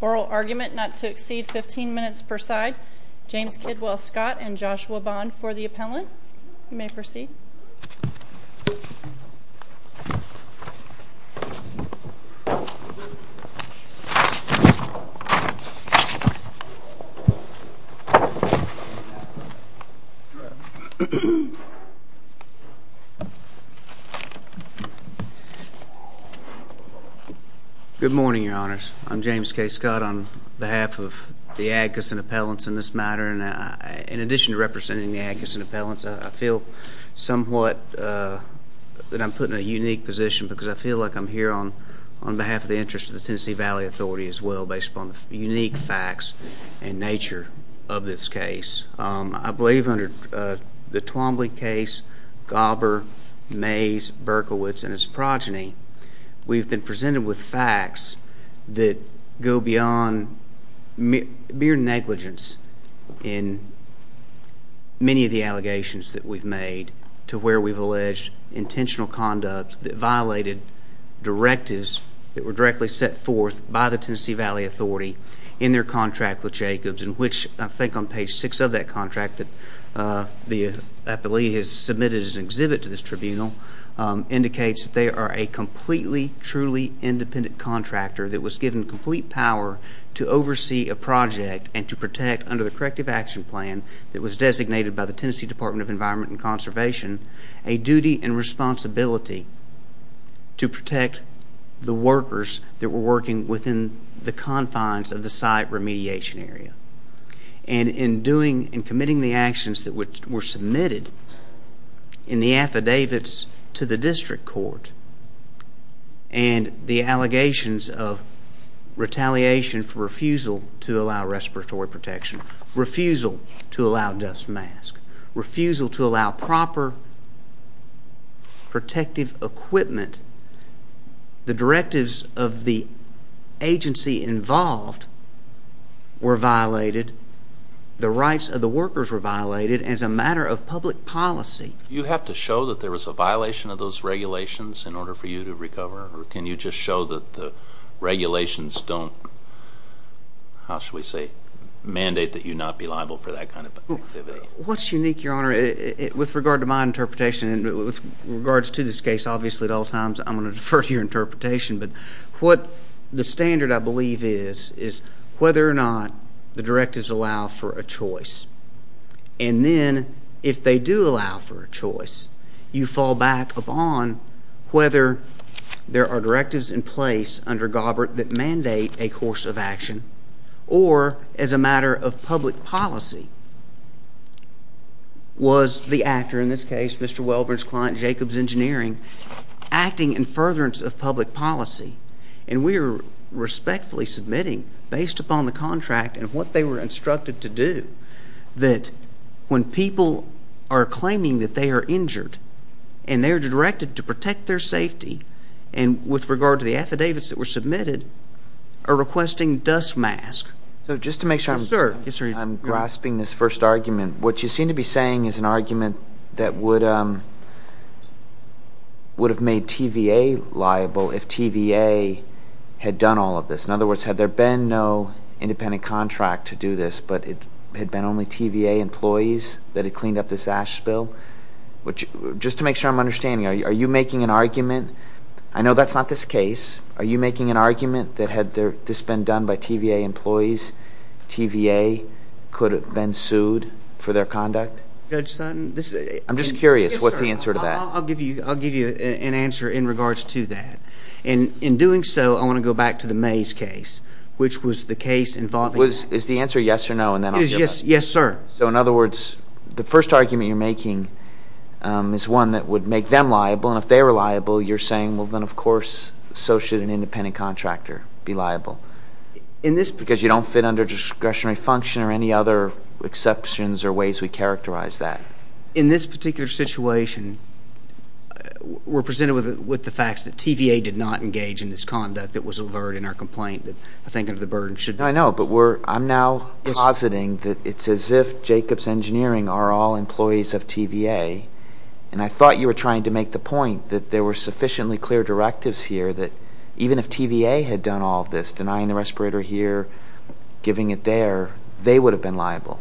Oral argument not to exceed 15 minutes per side. James Kidwell Scott and Joshua Bond for the appellant. You may proceed. Good morning, your honors. I'm James K. Scott on behalf of the Adkisson appellants in this case. I feel somewhat that I'm put in a unique position because I feel like I'm here on behalf of the interest of the Tennessee Valley Authority as well based upon the unique facts and nature of this case. I believe under the Twombly case, Gobber, Mays, Berkowitz, and its progeny, We've been presented with facts that go beyond mere negligence in many of the allegations that we've made to where we've alleged intentional conduct that violated directives that were directly set forth by the Tennessee Valley Authority in their contract with Jacobs, in which I think on page six of that contract that the appellee has submitted as an exhibit to this tribunal indicates that they are a completely, truly independent contractor that was given complete power to oversee a project and to protect under the corrective action plan that was designated by the Tennessee Department of Environment and Conservation a duty and responsibility to protect the workers that were working within the confines of the site remediation area. And in doing and committing the actions that were submitted in the affidavits to the district court and the allegations of retaliation for refusal to allow respiratory protection, refusal to allow dust masks, refusal to allow proper protective equipment, the directives of the agency involved were violated, the rights of the workers were of those regulations in order for you to recover? Or can you just show that the regulations don't, how should we say, mandate that you not be liable for that kind of activity? What's unique, Your Honor, with regard to my interpretation and with regards to this case, obviously at all times I'm going to defer to your interpretation, but what the standard I believe is, is whether or not the directives allow for a choice. And then if they do allow for a choice, you fall back upon whether there are directives in place under Gobbert that mandate a course of action, or as a matter of public policy, was the actor in this case, Mr. Welburn's client, Jacobs Engineering, acting in furtherance of public policy? And we are respectfully submitting, based upon the contract and what they were are claiming that they are injured, and they are directed to protect their safety, and with regard to the affidavits that were submitted, are requesting dust masks. So just to make sure I'm grasping this first argument, what you seem to be saying is an argument that would have made TVA liable if TVA had done all of this. In other words, had there been no independent contract to do this, but it had been only TVA employees that had cleaned up this ash spill? Just to make sure I'm understanding, are you making an argument, I know that's not this case, are you making an argument that had this been done by TVA employees, TVA could have been sued for their conduct? Judge Sutton, this is... I'm just curious, what's the answer to that? I'll give you an answer in regards to that. In doing so, I want to go back to the Mays case, which was the case involving... Is the answer yes or no, and then I'll... Yes, sir. So, in other words, the first argument you're making is one that would make them liable, and if they were liable, you're saying, well, then of course, so should an independent contractor be liable. In this... Because you don't fit under discretionary function or any other exceptions or ways we characterize that. In this particular situation, we're presented with the facts that TVA did not engage in this conduct that was averted in our complaint, that I think under the burden should... No, I know, but I'm now positing that it's as if Jacobs Engineering are all employees of TVA, and I thought you were trying to make the point that there were sufficiently clear directives here that even if TVA had done all of this, denying the respirator here, giving it there, they would have been liable.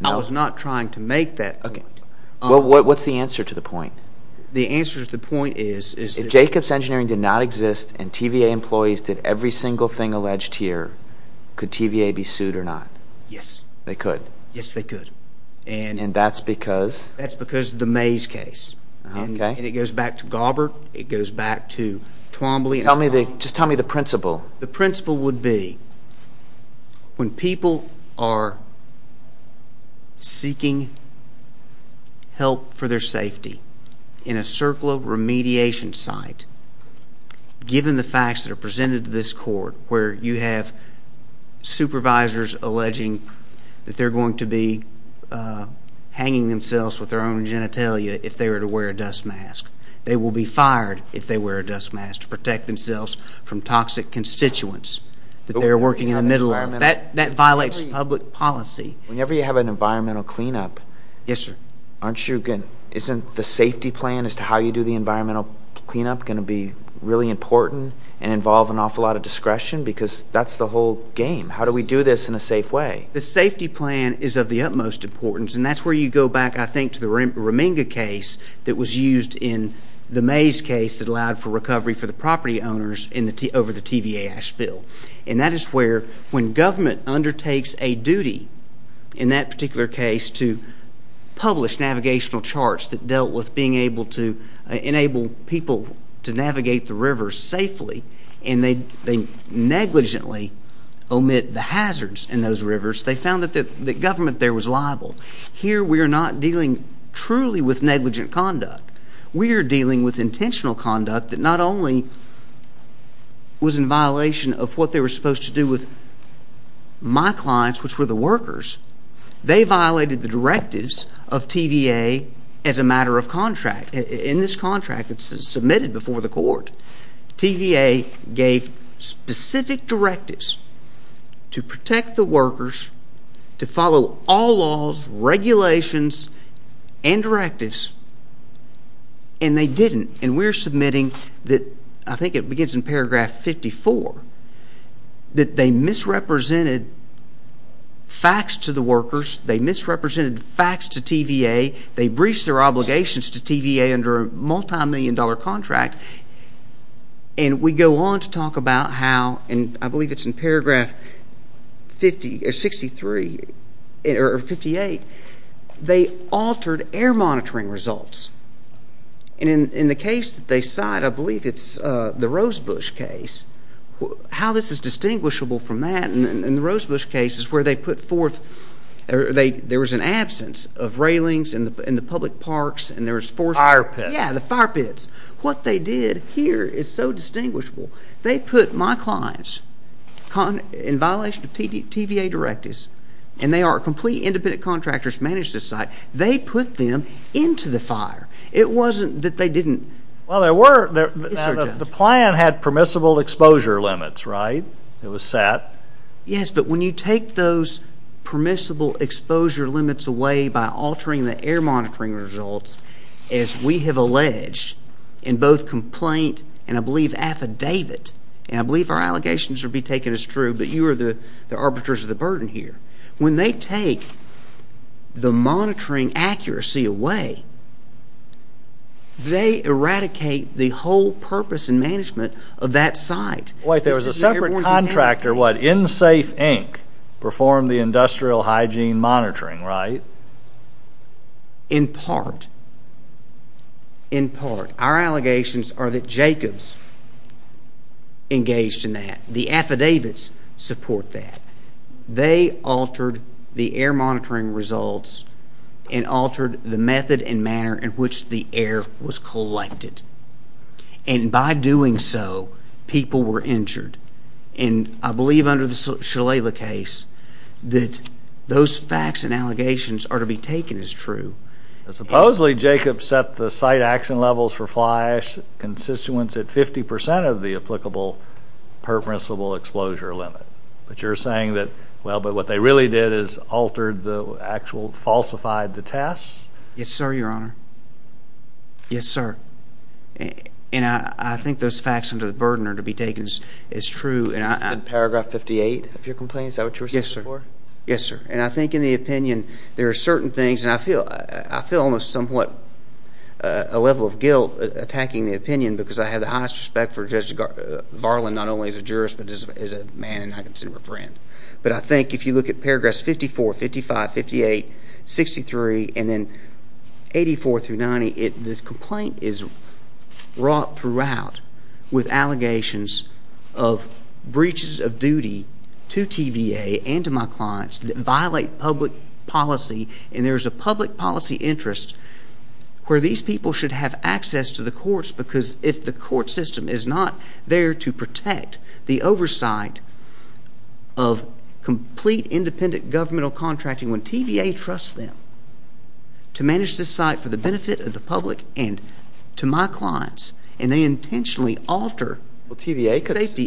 No. I was not trying to make that point. What's the answer to the point? The answer to the point is... If Jacobs Engineering did not exist and TVA employees did every single thing alleged here, could TVA be sued or not? Yes. They could? Yes, they could. And that's because... That's because of the Mays case. Okay. And it goes back to Gaubert. It goes back to Twombly. Just tell me the principle. The principle would be when people are seeking help for their safety in a circular remediation site, given the facts that are presented to this court, where you have supervisors alleging that they're going to be hanging themselves with their own genitalia if they were to wear a dust mask. They will be fired if they wear a dust mask to protect themselves from toxic constituents that they're working in the middle of. That violates public policy. Whenever you have an environmental cleanup, isn't the safety plan as to how you do the cleanup going to be really important and involve an awful lot of discretion? Because that's the whole game. How do we do this in a safe way? The safety plan is of the utmost importance, and that's where you go back, I think, to the Reminga case that was used in the Mays case that allowed for recovery for the property owners over the TVA ash spill. And that is where, when government undertakes a duty, in that particular case, to publish navigational charts that dealt with being able to enable people to navigate the rivers safely and they negligently omit the hazards in those rivers, they found that the government there was liable. Here, we are not dealing truly with negligent conduct. We are dealing with intentional conduct that not only was in violation of what they were supposed to do with my clients, which were the workers. They violated the directives of TVA as a matter of contract. In this contract that's submitted before the court, TVA gave specific directives to protect the workers, to follow all laws, regulations, and directives, and they didn't. And we're submitting that, I think it begins in paragraph 54, that they misrepresented facts to the workers, they misrepresented facts to TVA, they breached their obligations to TVA under a multimillion-dollar contract, and we go on to talk about how, and I believe it's in paragraph 50, or 63, or 58, they altered air monitoring results. And in the case that they cite, I believe it's the Rosebush case, how this is distinguishable from that, and the Rosebush case is where they put forth, there was an absence of railings in the public parks, and there was forced- Fire pits. Yeah, the fire pits. What they did here is so distinguishable. They put my clients, in violation of TVA directives, and they are complete independent contractors managed this site, they put them into the fire. It wasn't that they didn't- Well, there were- Yes, sir, Judge. The plan had permissible exposure limits, right? It was set. Yes, but when you take those permissible exposure limits away by altering the air monitoring results, as we have alleged in both complaint and, I believe, affidavit, and I believe our allegations will be taken as true, but you are the arbiters of the burden here. When they take the monitoring accuracy away, they eradicate the whole purpose and management of that site. Wait, there was a separate contractor, what, InSafe, Inc., performed the industrial hygiene monitoring, right? In part. In part. Our allegations are that Jacobs engaged in that. The affidavits support that. They altered the air monitoring results and altered the method and manner in which the air was collected, and by doing so, people were injured, and I believe under the Shalala case that those facts and allegations are to be taken as true. Supposedly, Jacobs set the site action levels for flash constituents at 50% of the applicable permissible exposure limit, but you're saying that, well, but what they really did is altered the actual, falsified the tests? Yes, sir, Your Honor. Yes, sir. And I think those facts under the burden are to be taken as true. And paragraph 58 of your complaint, is that what you were saying before? Yes, sir. Yes, sir. And I think in the opinion, there are certain things, and I feel almost somewhat a level of guilt attacking the opinion because I have the highest respect for Judge Varlin, not only as a jurist, but as a man, and I consider him a friend. But I think if you look at paragraphs 54, 55, 58, 63, and then 84 through 90, the complaint is wrought throughout with allegations of breaches of duty to TVA and to my clients that violate public policy, and there's a public policy interest where these people should have access to the courts because if the court system is not there to protect the oversight of complete independent governmental contracting when TVA trusts them to manage this site for the benefit of the public and to my clients, and they intentionally alter safety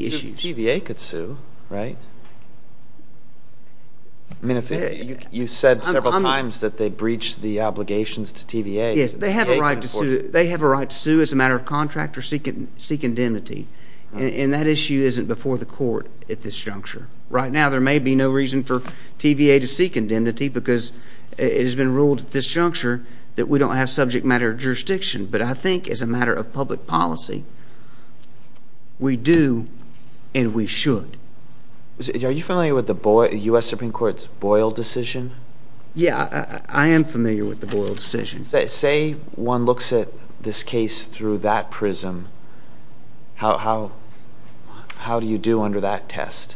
issues. Well, TVA could sue, right? I mean, you said several times that they breached the obligations to TVA. Yes, they have a right to sue as a matter of contract or seek indemnity, and that issue isn't before the court at this juncture. Right now, there may be no reason for TVA to seek indemnity because it has been ruled at this juncture that we don't have subject matter jurisdiction. But I think as a matter of public policy, we do and we should. Are you familiar with the U.S. Supreme Court's Boyle decision? Yeah, I am familiar with the Boyle decision. Say one looks at this case through that prism, how do you do under that test?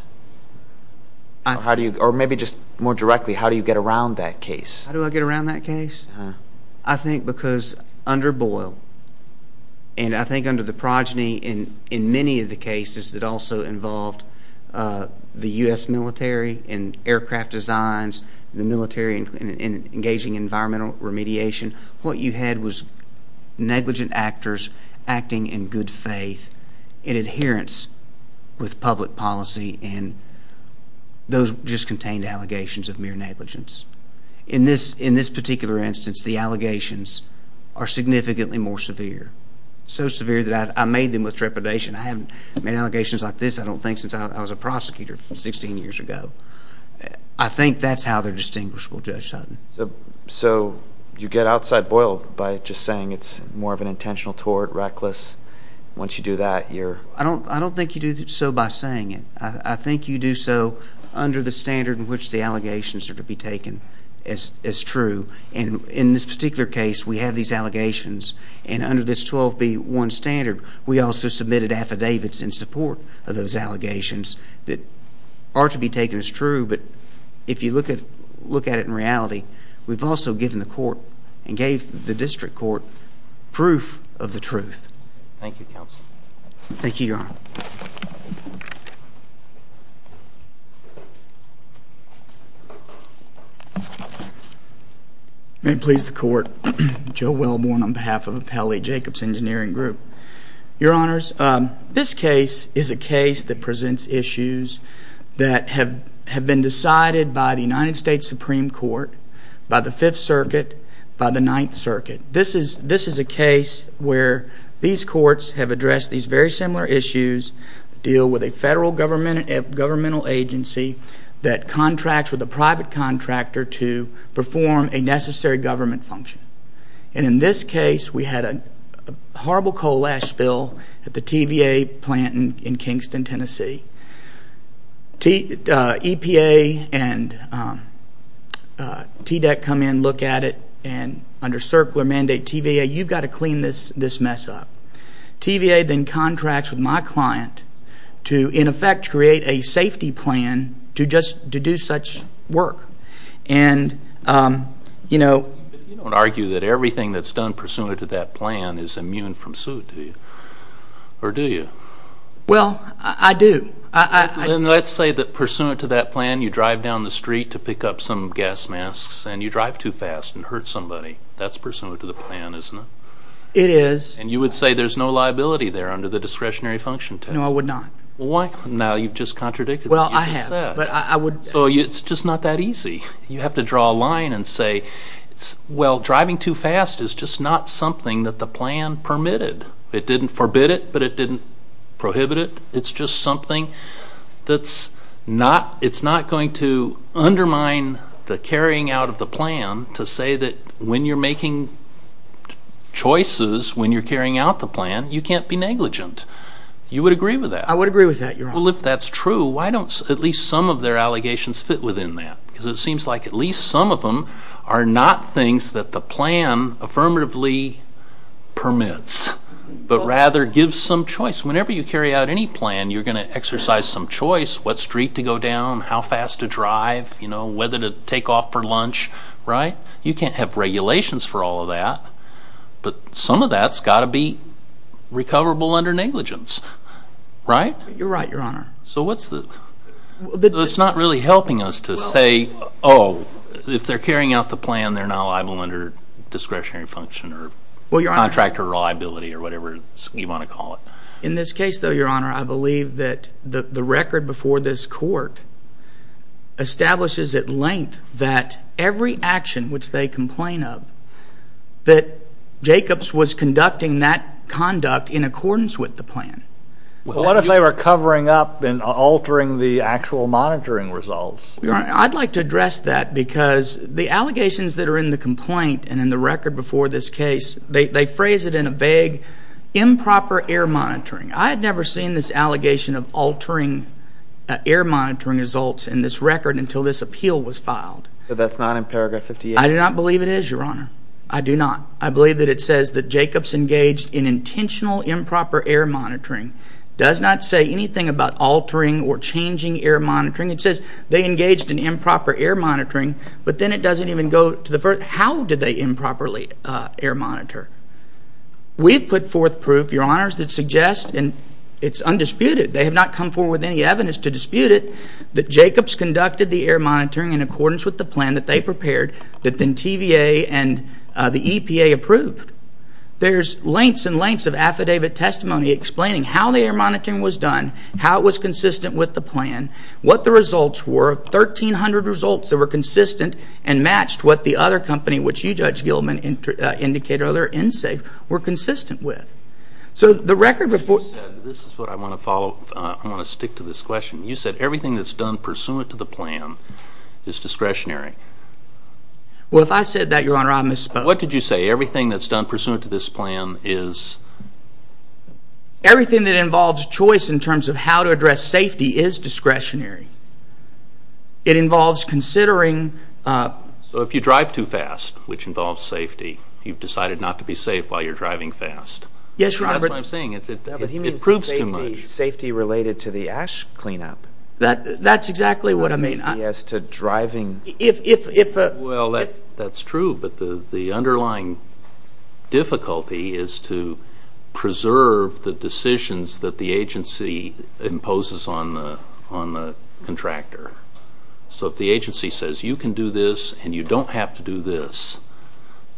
Or maybe just more directly, how do you get around that case? How do I get around that case? I think because under Boyle, and I think under the progeny in many of the cases that also involved the U.S. military and aircraft designs, the military engaging in environmental remediation, what you had was negligent actors acting in good faith in adherence with public policy and those just contained allegations of mere negligence. In this particular instance, the allegations are significantly more severe. So severe that I made them with trepidation. I haven't made allegations like this, I don't think, since I was a prosecutor 16 years ago. I think that's how they're distinguishable, Judge Sutton. So you get outside Boyle by just saying it's more of an intentional tort, reckless. Once you do that, you're... I don't think you do so by saying it. I think you do so under the standard in which the allegations are to be taken as true. In this particular case, we have these allegations and under this 12B1 standard, we also submitted affidavits in support of those allegations that are to be taken as true, but if you look at it in reality, we've also given the court and gave the district court proof of the truth. Thank you, Counsel. Thank you, Your Honor. May it please the court. Joe Wellborn on behalf of Appellee Jacobs Engineering Group. Your Honors, this case is a case that presents issues that have been decided by the United States Supreme Court, by the Fifth Circuit, by the Ninth Circuit. This is a case where these courts have addressed these very similar issues, deal with a federal governmental agency that contracts with a private contractor to perform a necessary government function. And in this case, we had a horrible coal ash spill at the TVA plant in Kingston, Tennessee. EPA and TDEC come in, look at it, and under circular mandate, TVA, you've got to clean this mess up. TVA then contracts with my client to, in effect, create a safety plan to do such work. And, you know- But you don't argue that everything that's done pursuant to that plan is immune from suit, do you? Or do you? Well, I do. Then let's say that pursuant to that plan, you drive down the street to pick up some gas masks, and you drive too fast and hurt somebody. That's pursuant to the plan, isn't it? It is. And you would say there's no liability there under the discretionary function test? No, I would not. Why? Now, you've just contradicted what you just said. Well, I have, but I would- So it's just not that easy. You have to draw a line and say, well, driving too fast is just not something that the plan permitted. It didn't forbid it, but it didn't prohibit it. It's just something that's not going to undermine the carrying out of the plan to say that when you're making choices when you're carrying out the plan, you can't be negligent. You would agree with that? I would agree with that, Your Honor. Well, if that's true, why don't at least some of their allegations fit within that? Because it seems like at least some of them are not things that the plan affirmatively permits, but rather gives some choice. Whenever you carry out any plan, you're going to exercise some choice, what street to go down, how fast to drive, whether to take off for lunch, right? You can't have regulations for all of that, but some of that's got to be recoverable under negligence, right? You're right, Your Honor. So what's the, it's not really helping us to say, oh, if they're carrying out the plan, they're not liable under discretionary function or contractor liability or whatever you want to call it. In this case, though, Your Honor, I believe that the record before this court establishes at length that every action which they complain of, that Jacobs was conducting that conduct in accordance with the plan. What if they were covering up and altering the actual monitoring results? Your Honor, I'd like to address that because the allegations that are in the complaint and in the record before this case, they phrase it in a vague improper air monitoring. I had never seen this allegation of altering air monitoring results in this record until this appeal was filed. But that's not in paragraph 58? I do not believe it is, Your Honor. I do not. I believe that it says that Jacobs engaged in intentional improper air monitoring. Does not say anything about altering or changing air monitoring. It says they engaged in improper air monitoring, but then it doesn't even go to the first. How did they improperly air monitor? We've put forth proof, Your Honors, that suggests, and it's undisputed, they have not come forward with any evidence to dispute it, that Jacobs conducted the air monitoring in accordance with the plan that they prepared. That then TVA and the EPA approved. There's lengths and lengths of affidavit testimony explaining how the air monitoring was done. How it was consistent with the plan. What the results were. 1,300 results that were consistent and matched what the other company, which you, Judge Gilman, indicated, other NSAFE, were consistent with. So the record before- This is what I want to follow. I want to stick to this question. You said everything that's done pursuant to the plan is discretionary. Well, if I said that, Your Honor, I misspoke. What did you say? Everything that's done pursuant to this plan is- Everything that involves choice in terms of how to address safety is discretionary. It involves considering- So if you drive too fast, which involves safety, you've decided not to be safe while you're driving fast. Yes, Your Honor. That's what I'm saying. It proves too much. Safety related to the ash cleanup. That's exactly what I mean. As to driving- Well, that's true, but the underlying difficulty is to preserve the decisions that the agency imposes on the contractor. So if the agency says, you can do this and you don't have to do this,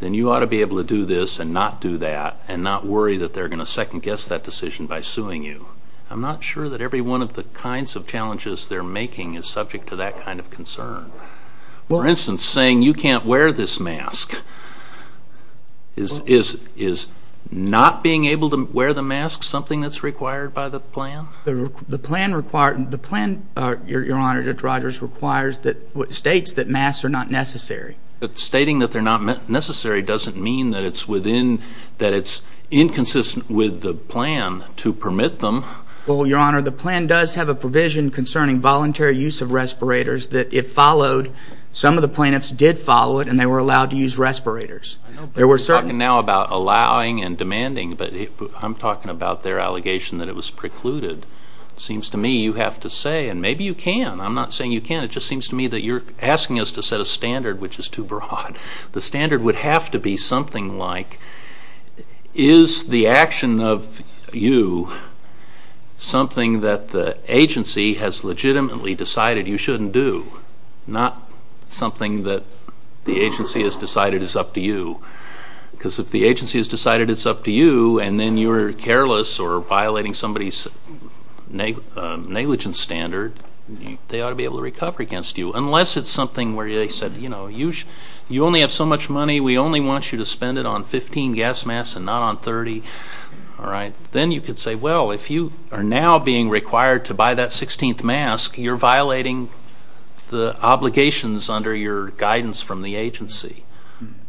then you ought to be able to do this and not do that and not worry that they're going to second-guess that decision by suing you. I'm not sure that every one of the kinds of challenges they're making is subject to that kind of concern. For instance, saying you can't wear this mask, is not being able to wear the mask something that's required by the plan? The plan requires- The plan, Your Honor, Judge Rogers, states that masks are not necessary. Stating that they're not necessary doesn't mean that it's inconsistent with the plan to permit them. Well, Your Honor, the plan does have a provision concerning voluntary use of respirators that, if followed, some of the plaintiffs did follow it and they were allowed to use respirators. I know, but you're talking now about allowing and demanding, but I'm talking about their allegation that it was precluded. It seems to me you have to say, and maybe you can. I'm not saying you can't. It just seems to me that you're asking us to set a standard which is too broad. The standard would have to be something like, is the action of you something that the agency has legitimately decided you shouldn't do? Not something that the agency has decided is up to you. because if the agency has decided it's up to you, and then you're careless or violating somebody's negligence standard, they ought to be able to recover against you. Unless it's something where they said, you only have so much money, we only want you to spend it on 15 gas masks and not on 30, all right? Then you could say, well, if you are now being required to buy that 16th mask, you're violating the obligations under your guidance from the agency.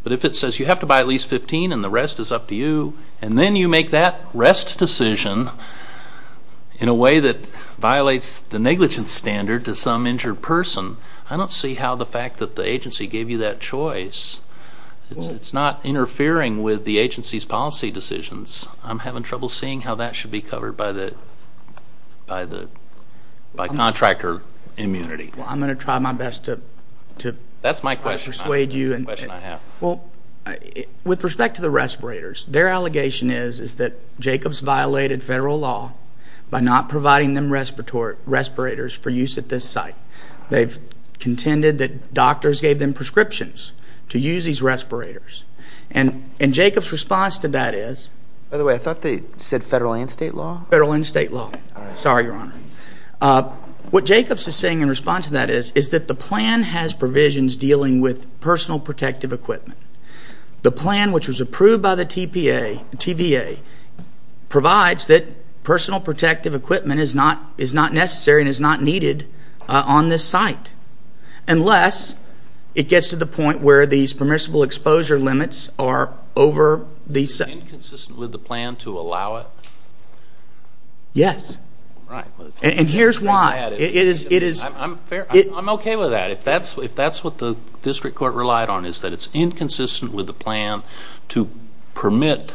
But if it says you have to buy at least 15 and the rest is up to you, and then you make that rest decision in a way that violates the negligence standard to some injured person, I don't see how the fact that the agency gave you that choice. It's not interfering with the agency's policy decisions. I'm having trouble seeing how that should be covered by contractor immunity. Well, I'm going to try my best to- That's my question. Persuade you. That's the question I have. Well, with respect to the respirators, their allegation is that Jacobs violated federal law by not providing them respirators for use at this site. They've contended that doctors gave them prescriptions to use these respirators. And Jacobs' response to that is- By the way, I thought they said federal and state law? Federal and state law. Sorry, Your Honor. What Jacobs is saying in response to that is that the plan has provisions dealing with personal protective equipment. The plan, which was approved by the TVA, provides that personal protective equipment is not necessary and is not needed on this site unless it gets to the point where these permissible exposure limits are over the site. Inconsistent with the plan to allow it? Yes. And here's why. I'm okay with that. If that's what the district court relied on is that it's inconsistent with the plan to permit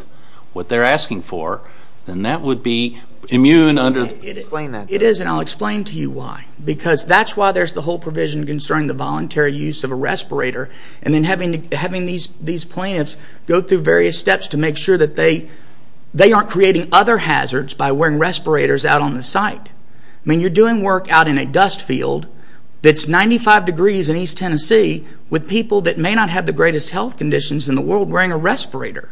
what they're asking for, then that would be immune under- Explain that to us. It is, and I'll explain to you why. Because that's why there's the whole provision concerning the voluntary use of a respirator. And then having these plaintiffs go through various steps to make sure that they aren't creating other hazards by wearing respirators out on the site. I mean, you're doing work out in a dust field that's 95 degrees in East Tennessee with people that may not have the greatest health conditions in the world wearing a respirator.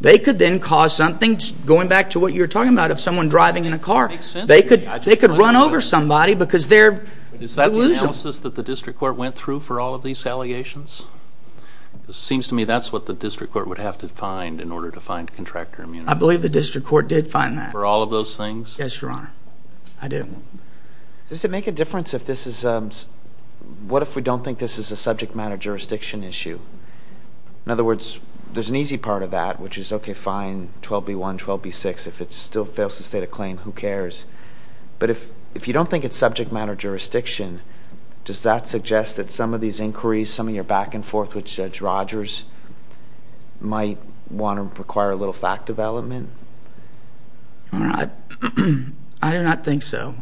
They could then cause something, going back to what you were talking about, of someone driving in a car. They could run over somebody because they're delusional. Is that the analysis that the district court went through for all of these allegations? Seems to me that's what the district court would have to find in order to find contractor immunity. I believe the district court did find that. For all of those things? Yes, your honor. I did. Does it make a difference if this is... What if we don't think this is a subject matter jurisdiction issue? In other words, there's an easy part of that, which is, okay, fine, 12B1, 12B6. If it still fails to state a claim, who cares? But if you don't think it's subject matter jurisdiction, does that suggest that some of these inquiries, some of your back and forth with Judge Rogers might want to require a little fact development? I do not think so.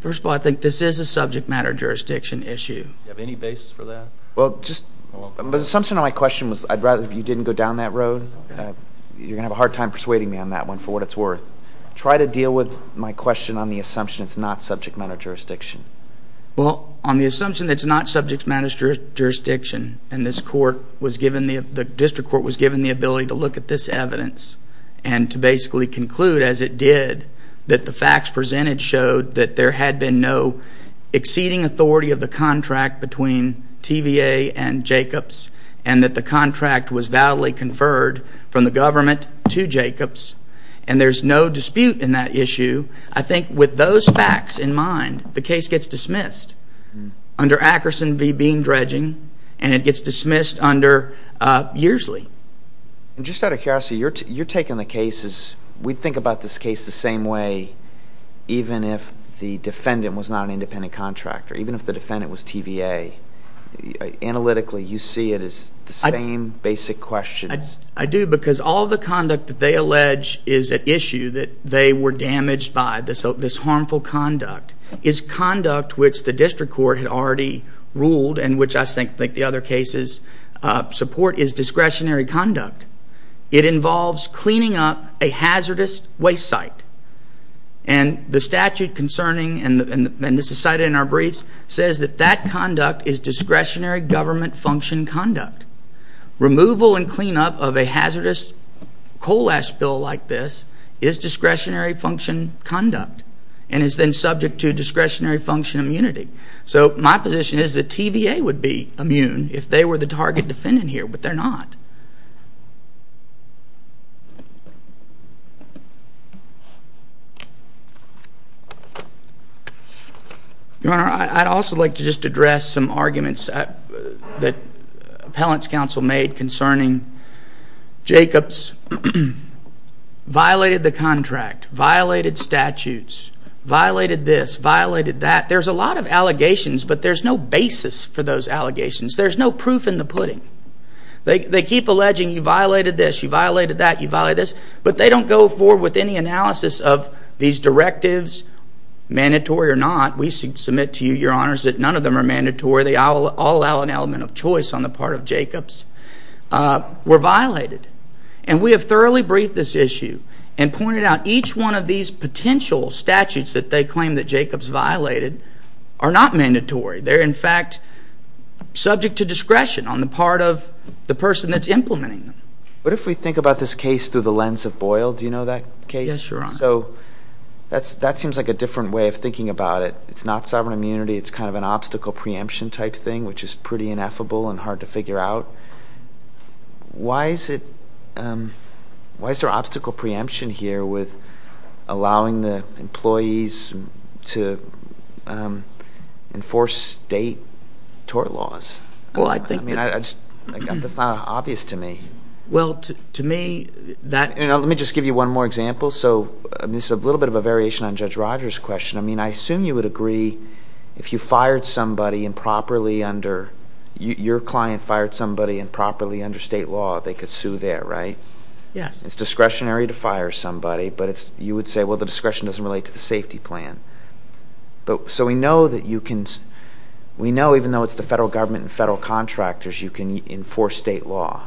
First of all, I think this is a subject matter jurisdiction issue. Do you have any basis for that? Well, the assumption of my question was I'd rather you didn't go down that road. You're going to have a hard time persuading me on that one, for what it's worth. Try to deal with my question on the assumption it's not subject matter jurisdiction. Well, on the assumption it's not subject matter jurisdiction, and the district court was given the ability to look at this evidence and to basically conclude, as it did, that the facts presented showed that there had been no exceeding authority of the contract between TVA and Jacobs, and that the contract was validly conferred from the government to Jacobs, and there's no dispute in that issue. I think with those facts in mind, the case gets dismissed under Ackerson v. Bean-Dredging, and it gets dismissed under Yearsley. Just out of curiosity, you're taking the case as we think about this case the same way, even if the defendant was not an independent contractor, even if the defendant was TVA. Analytically, you see it as the same basic questions? I do, because all the conduct that they allege is at issue, that they were damaged by this harmful conduct, is conduct which the district court had already ruled and which I think the other cases support is discretionary conduct. It involves cleaning up a hazardous waste site, and the statute concerning, and this is cited in our briefs, says that that conduct is discretionary government function conduct. Removal and cleanup of a hazardous coal ash spill like this is discretionary function conduct, and is then subject to discretionary function immunity. So my position is that TVA would be immune if they were the target defendant here, but they're not. Your Honor, I'd also like to just address some arguments that Appellant's Counsel made concerning Jacobs violated the contract, violated statutes, violated this, violated that. There's a lot of allegations, but there's no basis for those allegations. They keep alleging, you violated this, you violated that, you violated this, but they don't go forward with any analysis of these directives, mandatory or not. We submit to you, Your Honors, that none of them are mandatory. They all allow an element of choice on the part of Jacobs. Were violated, and we have thoroughly briefed this issue and pointed out each one of these potential statutes that they claim that Jacobs violated are not mandatory. They're in fact subject to discretion on the part of the person that's implementing them. What if we think about this case through the lens of Boyle? Do you know that case? Yes, Your Honor. So that seems like a different way of thinking about it. It's not sovereign immunity. It's kind of an obstacle preemption type thing, which is pretty ineffable and hard to figure out. Why is there obstacle preemption here with allowing the employees to enforce state tort laws? Well, I think- I mean, I just, that's not obvious to me. Well, to me, that- Let me just give you one more example. So this is a little bit of a variation on Judge Rogers' question. I mean, I assume you would agree if you fired somebody improperly under, your client fired somebody improperly under state law, they could sue there, right? Yes. It's discretionary to fire somebody, but you would say, well, the discretion doesn't relate to the safety plan. So we know that you can, we know even though it's the federal government and federal contractors, you can enforce state law.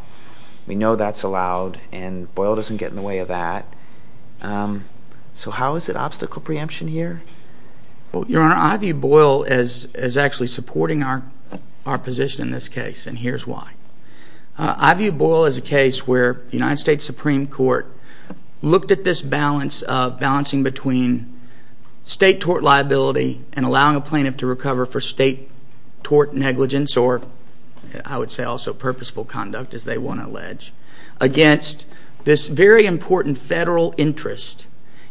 We know that's allowed, and Boyle doesn't get in the way of that. So how is it obstacle preemption here? Your Honor, I view Boyle as actually supporting our position in this case, and here's why. I view Boyle as a case where the United States Supreme Court looked at this balance of balancing between state tort liability and allowing a plaintiff to recover for state tort negligence, or I would say also purposeful conduct, as they want to allege, against this very important federal interest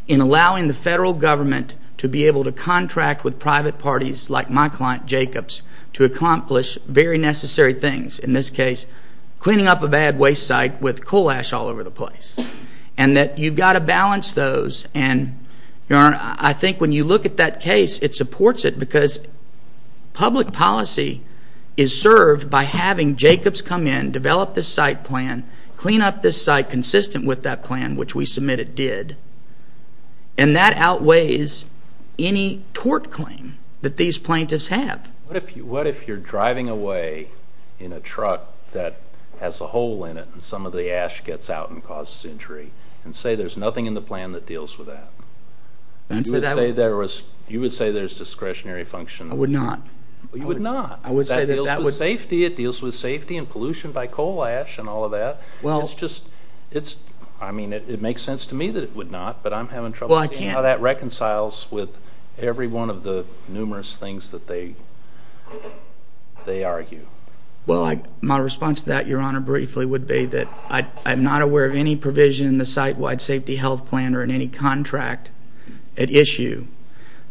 in allowing the federal government to be able to contract with private parties like my client, Jacobs, to accomplish very necessary things. In this case, cleaning up a bad waste site with coal ash all over the place. And that you've got to balance those, and, Your Honor, I think when you look at that case, it supports it because public policy is served by having Jacobs come in, develop this site plan, clean up this site consistent with that plan, which we submit it did, and that outweighs any tort claim that these plaintiffs have. What if you're driving away in a truck that has a hole in it, and some of the ash gets out and causes injury, and say there's nothing in the plan that deals with that? You would say there's discretionary function? I would not. You would not. That deals with safety. It deals with safety and pollution by coal ash and all of that. I mean, it makes sense to me that it would not, but I'm having trouble seeing how that reconciles with every one of the numerous things that they argue. Well, my response to that, Your Honor, briefly would be that I'm not aware of any provision in the site-wide safety health plan or in any contract at issue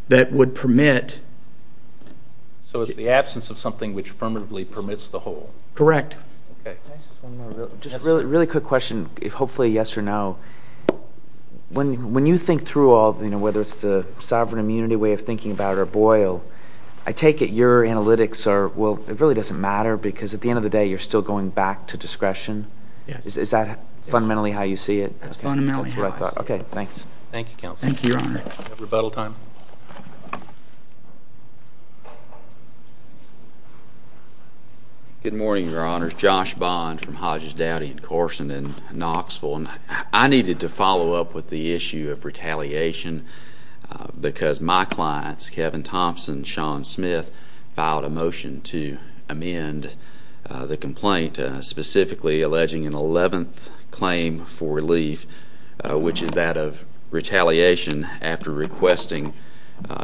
that would permit... So it's the absence of something which affirmatively permits the hole. Correct. Just a really quick question, hopefully yes or no. When you think through all, whether it's the sovereign immunity way of thinking about it or Boyle, I take it your analytics are, well, it really doesn't matter because at the end of the day, you're still going back to discretion. Is that fundamentally how you see it? That's fundamentally how I see it. Okay, thanks. Thank you, counsel. Thank you, Your Honor. Do we have rebuttal time? Good morning, Your Honors. Josh Bond from Hodges, Dowdy, and Carson in Knoxville. I needed to follow up with the issue of retaliation because my clients, Kevin Thompson, Sean Smith, filed a motion to amend the complaint, specifically alleging an 11th claim for relief, which is that of retaliation after reporting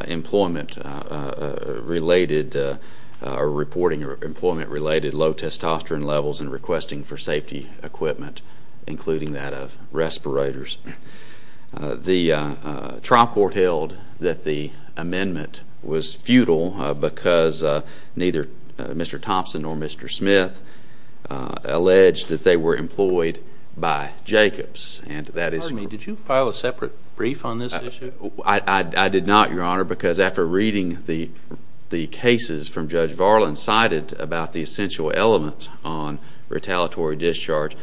employment-related low testosterone levels and requesting for safety equipment, including that of respirators. The trial court held that the amendment was futile because neither Mr. Thompson nor Mr. Smith alleged that they were employed by Jacobs, and that is— Pardon me. Did you file a separate brief on this issue? I did not, Your Honor, because after reading the cases from Judge Varlin cited about the essential elements on retaliatory discharge,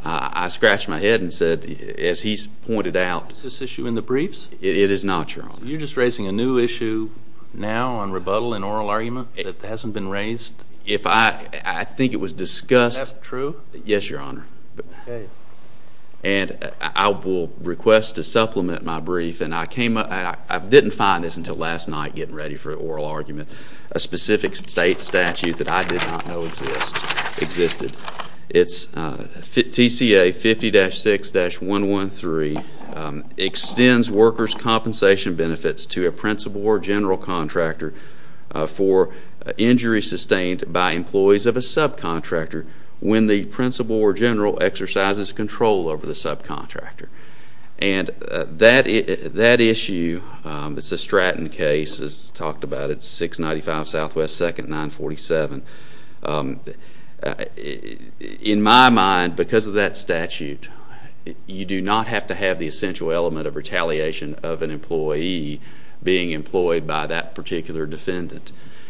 I scratched my head and said, as he's pointed out— Is this issue in the briefs? It is not, Your Honor. You're just raising a new issue now on rebuttal and oral argument that hasn't been raised? If I—I think it was discussed— Is that true? Yes, Your Honor. And I will request to supplement my brief, and I came up—I didn't find this until last night getting ready for oral argument—a specific statute that I did not know existed. It's TCA 50-6-113 extends workers' compensation benefits to a principal or general contractor for injury sustained by employees of a subcontractor when the principal or general exercises control over the subcontractor. And that issue—it's a Stratton case, as talked about. It's 695 Southwest 2nd 947. In my mind, because of that statute, you do not have to have the essential element of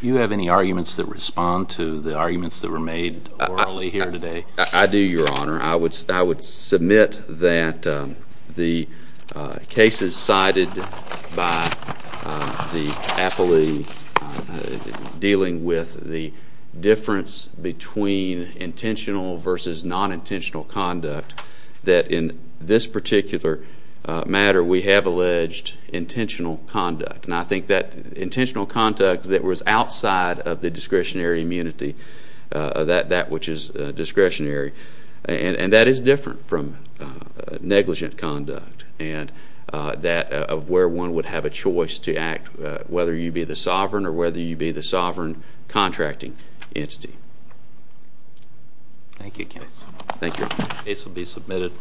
You have any arguments that respond to the arguments that were made orally here today? I do, Your Honor. I would submit that the cases cited by the appellee dealing with the difference between intentional versus non-intentional conduct, that in this particular matter, we have alleged intentional conduct. And I think that intentional conduct that was outside of the discretionary immunity, that which is discretionary, and that is different from negligent conduct and that of where one would have a choice to act, whether you be the sovereign or whether you be the sovereign contracting entity. Thank you, case. Thank you. Case will be submitted.